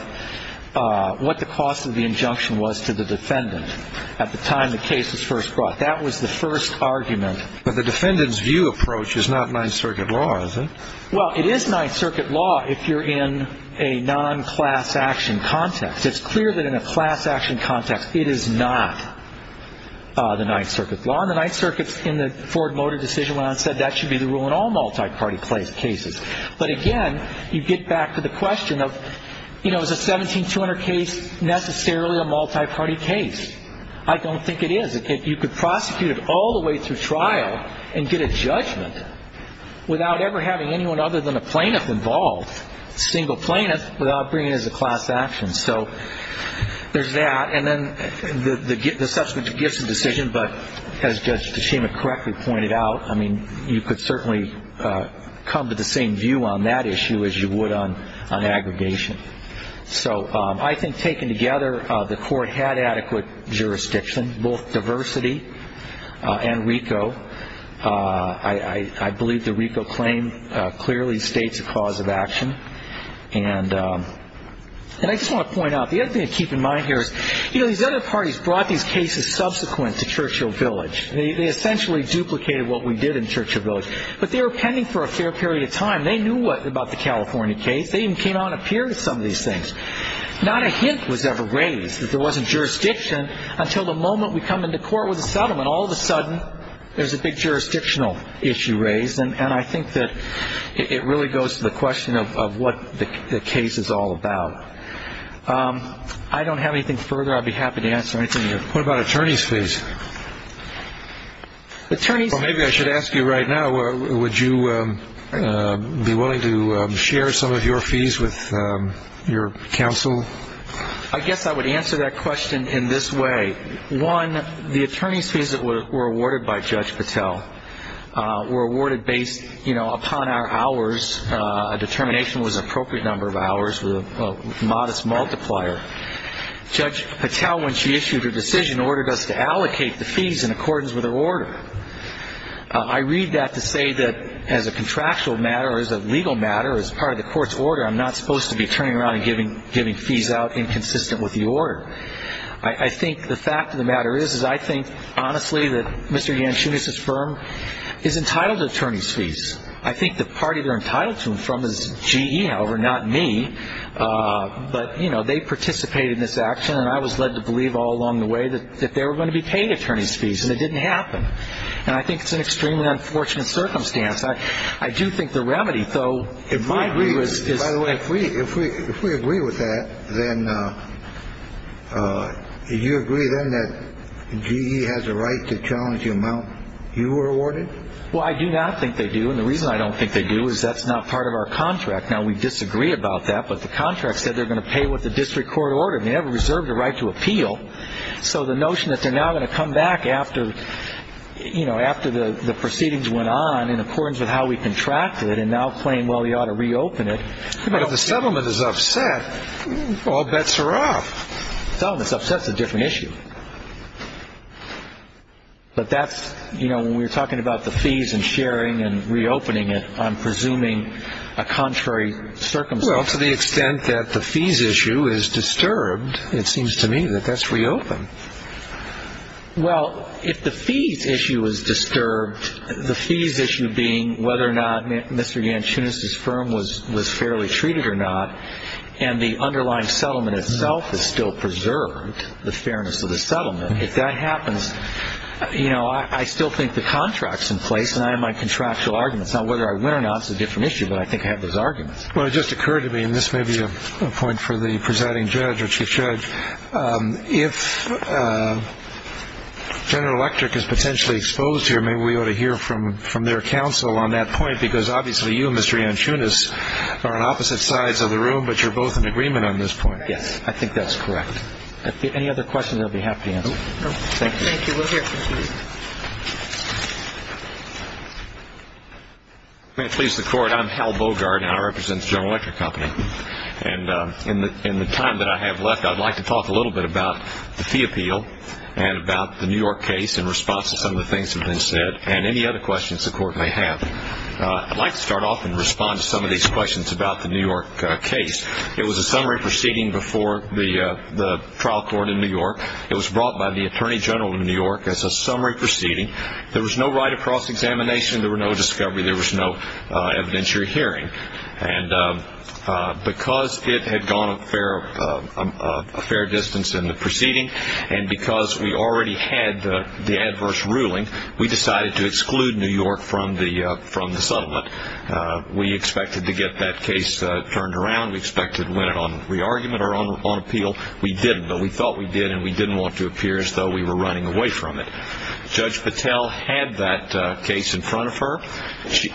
what the cost of the injunction was to the defendant at the time the case was first brought. That was the first argument. But the defendant's view approach is not Ninth Circuit law, is it? Well, it is Ninth Circuit law if you're in a non-class action context. It's clear that in a class action context, it is not the Ninth Circuit law. And the Ninth Circuit, in the Ford Motor decision, when I said that should be the rule in all multi-party cases. But, again, you get back to the question of, you know, is a 17200 case necessarily a multi-party case? I don't think it is. You could prosecute it all the way through trial and get a judgment without ever having anyone other than a plaintiff involved, a single plaintiff, without bringing it as a class action. So there's that. And then the subsequent gifts of decision, but as Judge Tachima correctly pointed out, I mean, you could certainly come to the same view on that issue as you would on aggregation. So I think taken together, the court had adequate jurisdiction, both diversity and RICO. I believe the RICO claim clearly states a cause of action. And I just want to point out, the other thing to keep in mind here is, you know, these other parties brought these cases subsequent to Churchill Village. They essentially duplicated what we did in Churchill Village. But they were pending for a fair period of time. They knew about the California case. They even came on a peer to some of these things. Not a hint was ever raised that there wasn't jurisdiction until the moment we come into court with a settlement. All of a sudden, there's a big jurisdictional issue raised. And I think that it really goes to the question of what the case is all about. I don't have anything further. I'd be happy to answer anything you have. What about attorney's fees? Maybe I should ask you right now, would you be willing to share some of your fees with your counsel? I guess I would answer that question in this way. One, the attorney's fees that were awarded by Judge Patel were awarded based, you know, upon our hours. A determination was an appropriate number of hours with a modest multiplier. Judge Patel, when she issued her decision, ordered us to allocate the fees in accordance with her order. I read that to say that as a contractual matter or as a legal matter or as part of the court's order, I'm not supposed to be turning around and giving fees out inconsistent with the order. I think the fact of the matter is, is I think, honestly, that Mr. Yanchunis's firm is entitled to attorney's fees. I think the party they're entitled to them from is GE, however, not me. But, you know, they participated in this action. And I was led to believe all along the way that they were going to be paid attorney's fees. And it didn't happen. And I think it's an extremely unfortunate circumstance. I do think the remedy, though, in my view is. By the way, if we if we if we agree with that, then you agree then that GE has a right to challenge the amount you were awarded. Well, I do not think they do. And the reason I don't think they do is that's not part of our contract. Now, we disagree about that. But the contract said they're going to pay with the district court order. They have reserved the right to appeal. So the notion that they're now going to come back after, you know, But if the settlement is upset, all bets are off. Settlement's upset's a different issue. But that's, you know, when we're talking about the fees and sharing and reopening it, I'm presuming a contrary circumstance. Well, to the extent that the fees issue is disturbed, it seems to me that that's reopened. Well, if the fees issue is disturbed, the fees issue being whether or not Mr. Yanchunis's firm was was fairly treated or not, and the underlying settlement itself is still preserved, the fairness of the settlement. If that happens, you know, I still think the contract's in place and I have my contractual arguments on whether I win or not. It's a different issue, but I think I have those arguments. Well, it just occurred to me, and this may be a point for the presiding judge or chief judge. If General Electric is potentially exposed here, maybe we ought to hear from their counsel on that point, because obviously you, Mr. Yanchunis, are on opposite sides of the room, but you're both in agreement on this point. Yes, I think that's correct. Any other questions I'll be happy to answer. Thank you. Thank you. We'll hear from Chief. May it please the Court, I'm Hal Bogart, and I represent the General Electric Company. And in the time that I have left, I'd like to talk a little bit about the fee appeal and about the New York case in response to some of the things that have been said, and any other questions the Court may have. I'd like to start off and respond to some of these questions about the New York case. It was a summary proceeding before the trial court in New York. It was brought by the Attorney General of New York as a summary proceeding. There was no right of cross-examination. There were no discovery. There was no evidentiary hearing. And because it had gone a fair distance in the proceeding, and because we already had the adverse ruling, we decided to exclude New York from the settlement. We expected to get that case turned around. We expected to win it on re-argument or on appeal. We didn't, but we thought we did, and we didn't want to appear as though we were running away from it. Judge Patel had that case in front of her. She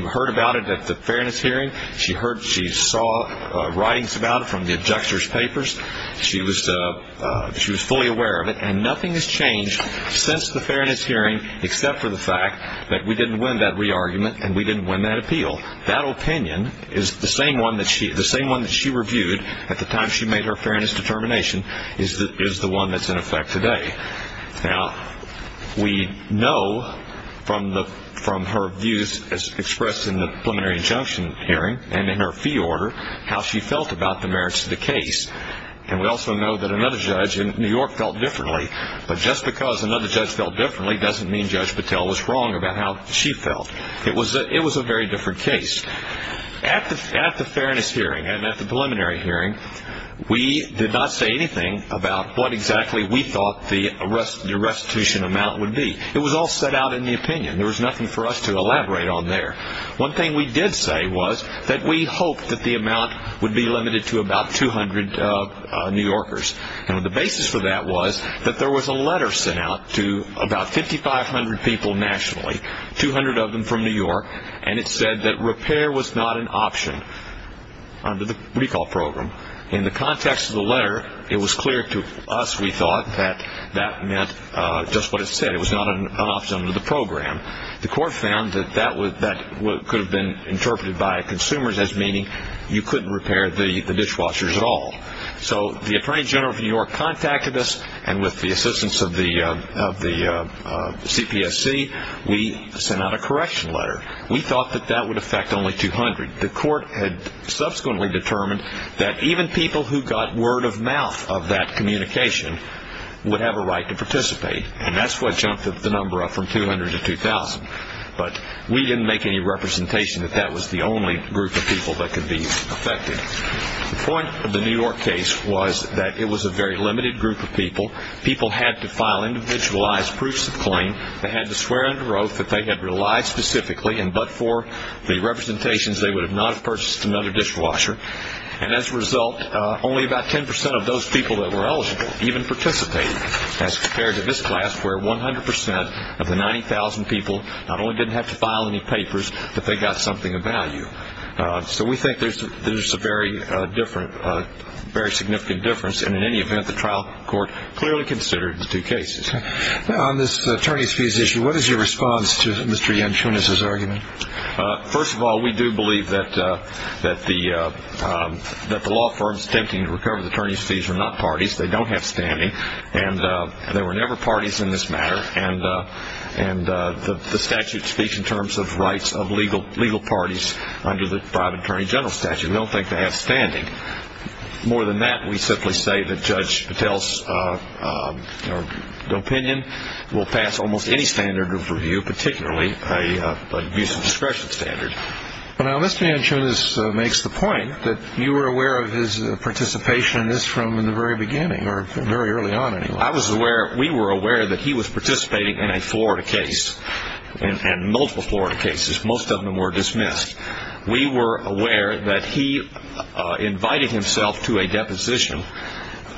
heard about it at the fairness hearing. She saw writings about it from the abjector's papers. She was fully aware of it, and nothing has changed since the fairness hearing, except for the fact that we didn't win that re-argument and we didn't win that appeal. That opinion is the same one that she reviewed at the time she made her fairness determination, is the one that's in effect today. Now, we know from her views as expressed in the preliminary injunction hearing and in her fee order how she felt about the merits of the case. And we also know that another judge in New York felt differently. But just because another judge felt differently doesn't mean Judge Patel was wrong about how she felt. It was a very different case. At the fairness hearing and at the preliminary hearing, we did not say anything about what exactly we thought the restitution amount would be. It was all set out in the opinion. There was nothing for us to elaborate on there. One thing we did say was that we hoped that the amount would be limited to about 200 New Yorkers. And the basis for that was that there was a letter sent out to about 5,500 people nationally, 200 of them from New York, and it said that repair was not an option under the recall program. In the context of the letter, it was clear to us, we thought, that that meant just what it said. It was not an option under the program. The court found that that could have been interpreted by consumers as meaning you couldn't repair the dishwashers at all. So the Attorney General of New York contacted us, and with the assistance of the CPSC, we sent out a correction letter. We thought that that would affect only 200. The court had subsequently determined that even people who got word of mouth of that communication would have a right to participate. And that's what jumped the number up from 200 to 2,000. But we didn't make any representation that that was the only group of people that could be affected. The point of the New York case was that it was a very limited group of people. People had to file individualized proofs of claim. They had to swear under oath that they had relied specifically, and but for the representations, they would not have purchased another dishwasher. And as a result, only about 10% of those people that were eligible even participated, as compared to this class where 100% of the 90,000 people not only didn't have to file any papers, but they got something of value. So we think there's a very different, very significant difference. And in any event, the trial court clearly considered the two cases. Now, on this attorney's fees issue, what is your response to Mr. Yanchunas' argument? First of all, we do believe that the law firms attempting to recover the attorney's fees are not parties. They don't have standing. And there were never parties in this matter. And the statute speaks in terms of rights of legal parties under the private attorney general statute. We don't think they have standing. More than that, we simply say that Judge Patel's opinion will pass almost any standard of review, particularly an abuse of discretion standard. Now, Mr. Yanchunas makes the point that you were aware of his participation in this from the very beginning, or very early on, anyway. Well, we were aware that he was participating in a Florida case, and multiple Florida cases. Most of them were dismissed. We were aware that he invited himself to a deposition,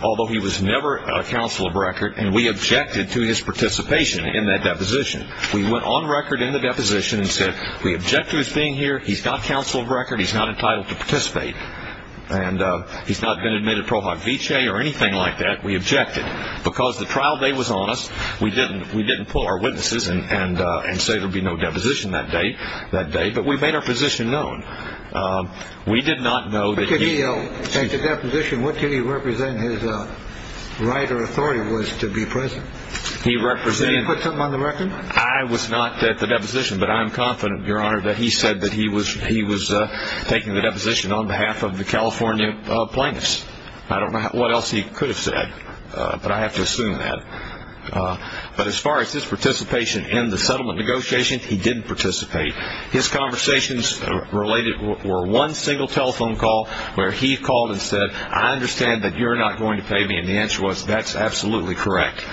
although he was never counsel of record, and we objected to his participation in that deposition. We went on record in the deposition and said, we object to his being here, he's not counsel of record, he's not entitled to participate, and he's not been admitted pro hoc vice or anything like that. We objected. Because the trial day was on us, we didn't pull our witnesses and say there would be no deposition that day, but we made our position known. We did not know that he... But could he take the deposition? What could he represent his right or authority was to be present? He represented... Did he put something on the record? I was not at the deposition, but I'm confident, Your Honor, that he said that he was taking the deposition on behalf of the California plaintiffs. I don't know what else he could have said, but I have to assume that. But as far as his participation in the settlement negotiations, he didn't participate. His conversations related were one single telephone call where he called and said, I understand that you're not going to pay me, and the answer was, that's absolutely correct.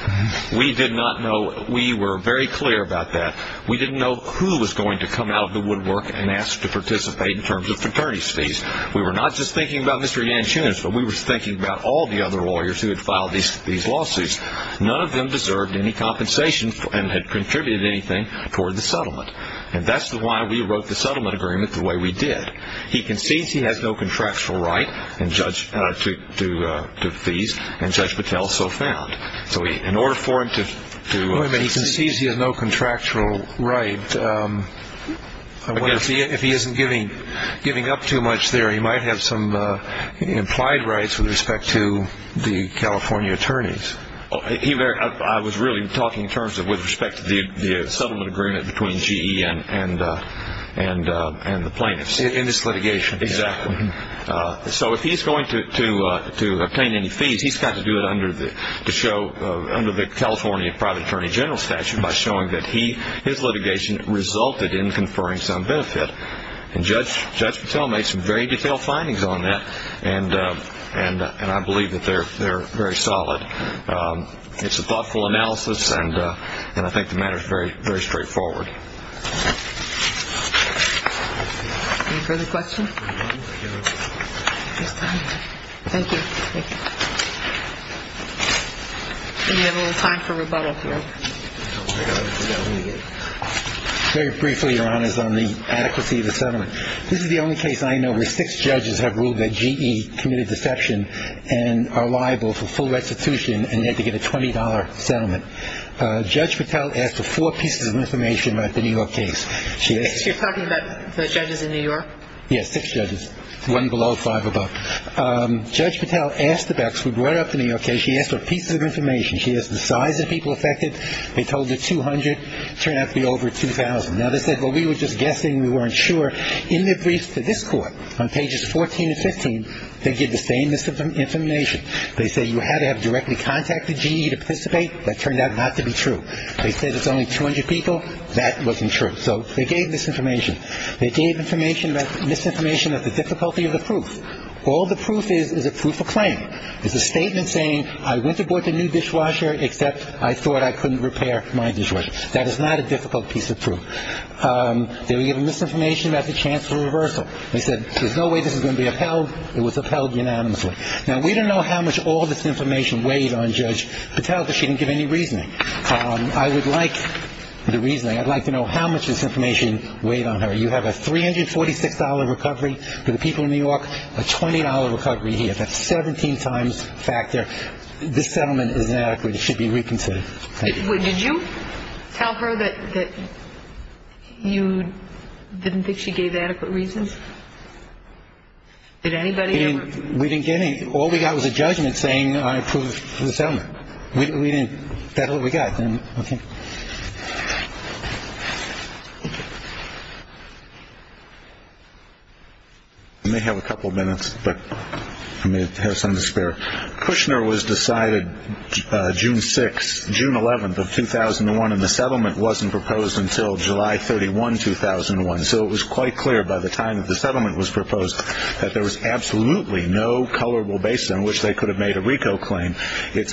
We did not know. We were very clear about that. We didn't know who was going to come out of the woodwork and ask to participate in terms of fraternity fees. We were not just thinking about Mr. Yanchunas, but we were thinking about all the other lawyers who had filed these lawsuits. None of them deserved any compensation and had contributed anything toward the settlement. And that's why we wrote the settlement agreement the way we did. He concedes he has no contractual right to fees, and Judge Patel so found. So in order for him to... If he isn't giving up too much there, he might have some implied rights with respect to the California attorneys. I was really talking in terms of with respect to the settlement agreement between GE and the plaintiffs. In this litigation. Exactly. So if he's going to obtain any fees, he's got to do it under the California private attorney general statute by showing that his litigation resulted in conferring some benefit. And Judge Patel made some very detailed findings on that, and I believe that they're very solid. It's a thoughtful analysis, and I think the matter is very straightforward. Any further questions? Thank you. We have a little time for rebuttal here. Very briefly, Your Honors, on the adequacy of the settlement. This is the only case I know where six judges have ruled that GE committed deception and are liable for full restitution and had to get a $20 settlement. Judge Patel asked for four pieces of information about the New York case. You're talking about the judges in New York? Yes, six judges, one below, five above. Judge Patel asked the Bucks, who brought up the New York case, she asked for pieces of information. She asked the size of people affected. They told her 200. Turned out to be over 2,000. Now, they said, well, we were just guessing. We weren't sure. In their briefs to this Court on pages 14 and 15, they give the same misinformation. They say you had to have directly contacted GE to participate. That turned out not to be true. They said it's only 200 people. That wasn't true. So they gave misinformation. They gave misinformation about the difficulty of the proof. All the proof is is a proof of claim. It's a statement saying I went to board the new dishwasher except I thought I couldn't repair my dishwasher. That is not a difficult piece of proof. They were given misinformation about the chance for reversal. They said there's no way this is going to be upheld. It was upheld unanimously. Now, we don't know how much all this information weighed on Judge Patel because she didn't give any reasoning. I would like the reasoning. I'd like to know how much this information weighed on her. You have a $346 recovery for the people of New York, a $20 recovery here. That's 17 times factor. This settlement is inadequate. It should be reconsidered. Thank you. Did you tell her that you didn't think she gave adequate reasons? Did anybody? We didn't give any. All we got was a judgment saying I approved the settlement. We didn't. That's all we got. Okay. I may have a couple of minutes, but I may have some to spare. Kushner was decided June 6th, June 11th of 2001, and the settlement wasn't proposed until July 31, 2001. So it was quite clear by the time that the settlement was proposed that there was absolutely no colorable base on which they could have made a RICO claim. The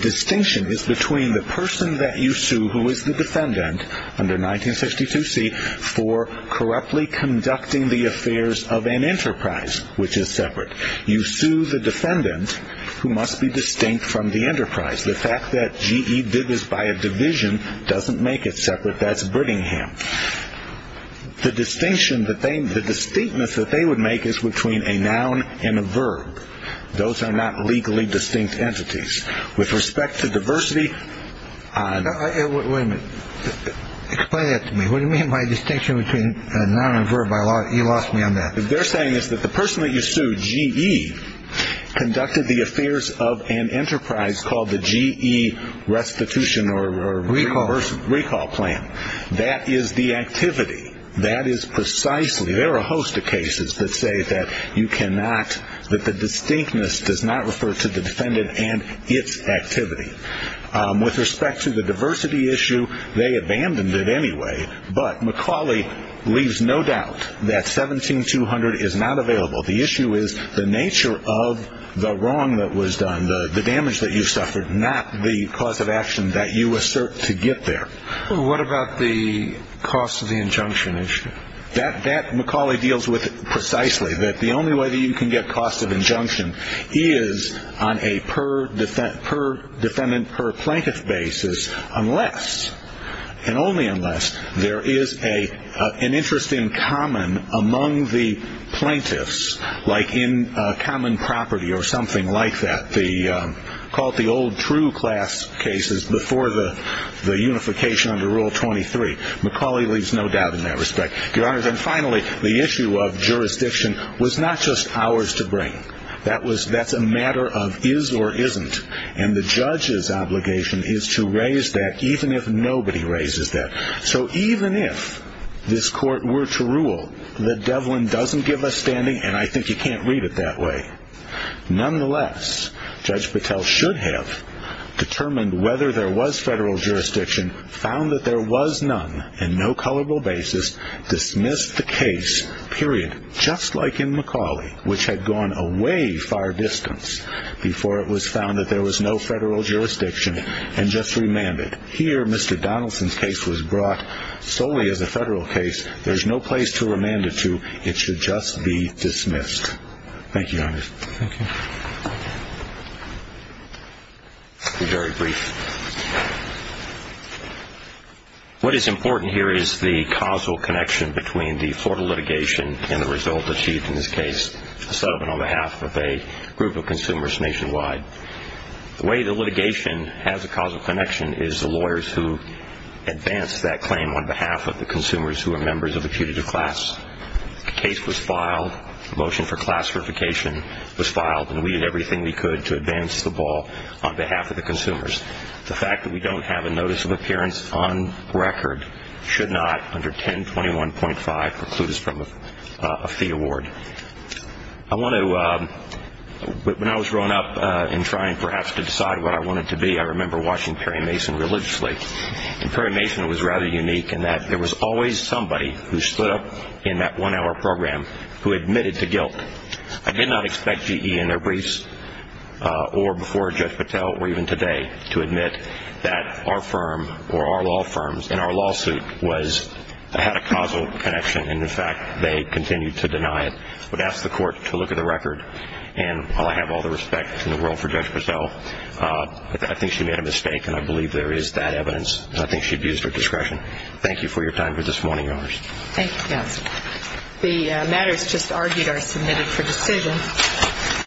distinction is between the person that you sue, who is the defendant under 1962C, for corruptly conducting the affairs of an enterprise, which is separate. You sue the defendant who must be distinct from the enterprise. The fact that GE did this by a division doesn't make it separate. That's Brittingham. The distinctness that they would make is between a noun and a verb. Those are not legally distinct entities. With respect to diversity – Wait a minute. Explain that to me. What do you mean by distinction between a noun and a verb? You lost me on that. What they're saying is that the person that you sue, GE, conducted the affairs of an enterprise called the GE Restitution or – RICO. RICO plan. That is the activity. That is precisely – There are a host of cases that say that you cannot – that the distinctness does not refer to the defendant and its activity. With respect to the diversity issue, they abandoned it anyway. But McCauley leaves no doubt that 17200 is not available. The issue is the nature of the wrong that was done, the damage that you suffered, not the cause of action that you assert to get there. What about the cost of the injunction issue? That McCauley deals with precisely, that the only way that you can get cost of injunction is on a per-defendant, per-plaintiff basis unless, and only unless, there is an interest in common among the plaintiffs, like in common property or something like that. Call it the old true class cases before the unification under Rule 23. McCauley leaves no doubt in that respect. Your Honors, and finally, the issue of jurisdiction was not just ours to bring. That's a matter of is or isn't. And the judge's obligation is to raise that even if nobody raises that. So even if this court were to rule that Devlin doesn't give a standing, and I think you can't read it that way, nonetheless, Judge Patel should have determined whether there was federal jurisdiction, found that there was none, and no colorable basis, dismissed the case, period, just like in McCauley, which had gone a way far distance before it was found that there was no federal jurisdiction, and just remanded. Here, Mr. Donaldson's case was brought solely as a federal case. There's no place to remand it to. It should just be dismissed. Thank you, Your Honors. Thank you. I'll be very brief. What is important here is the causal connection between the Florida litigation and the result achieved in this case, a settlement on behalf of a group of consumers nationwide. The way the litigation has a causal connection is the lawyers who advanced that claim on behalf of the consumers who were members of the putative class. The case was filed. The motion for class verification was filed, and we did everything we could to advance the ball on behalf of the consumers. The fact that we don't have a notice of appearance on record should not, under 1021.5, preclude us from a fee award. When I was growing up and trying perhaps to decide what I wanted to be, I remember watching Perry Mason religiously, and Perry Mason was rather unique in that there was always somebody who stood up in that one-hour program who admitted to guilt. I did not expect GE in their briefs or before Judge Patel or even today to admit that our firm or our law firms in our lawsuit had a causal connection, and, in fact, they continued to deny it. I would ask the Court to look at the record, and while I have all the respect in the world for Judge Patel, I think she made a mistake, and I believe there is that evidence, and I think she abused her discretion. Thank you for your time for this morning, Your Honors. Thank you, counsel. The matters just argued are submitted for decision.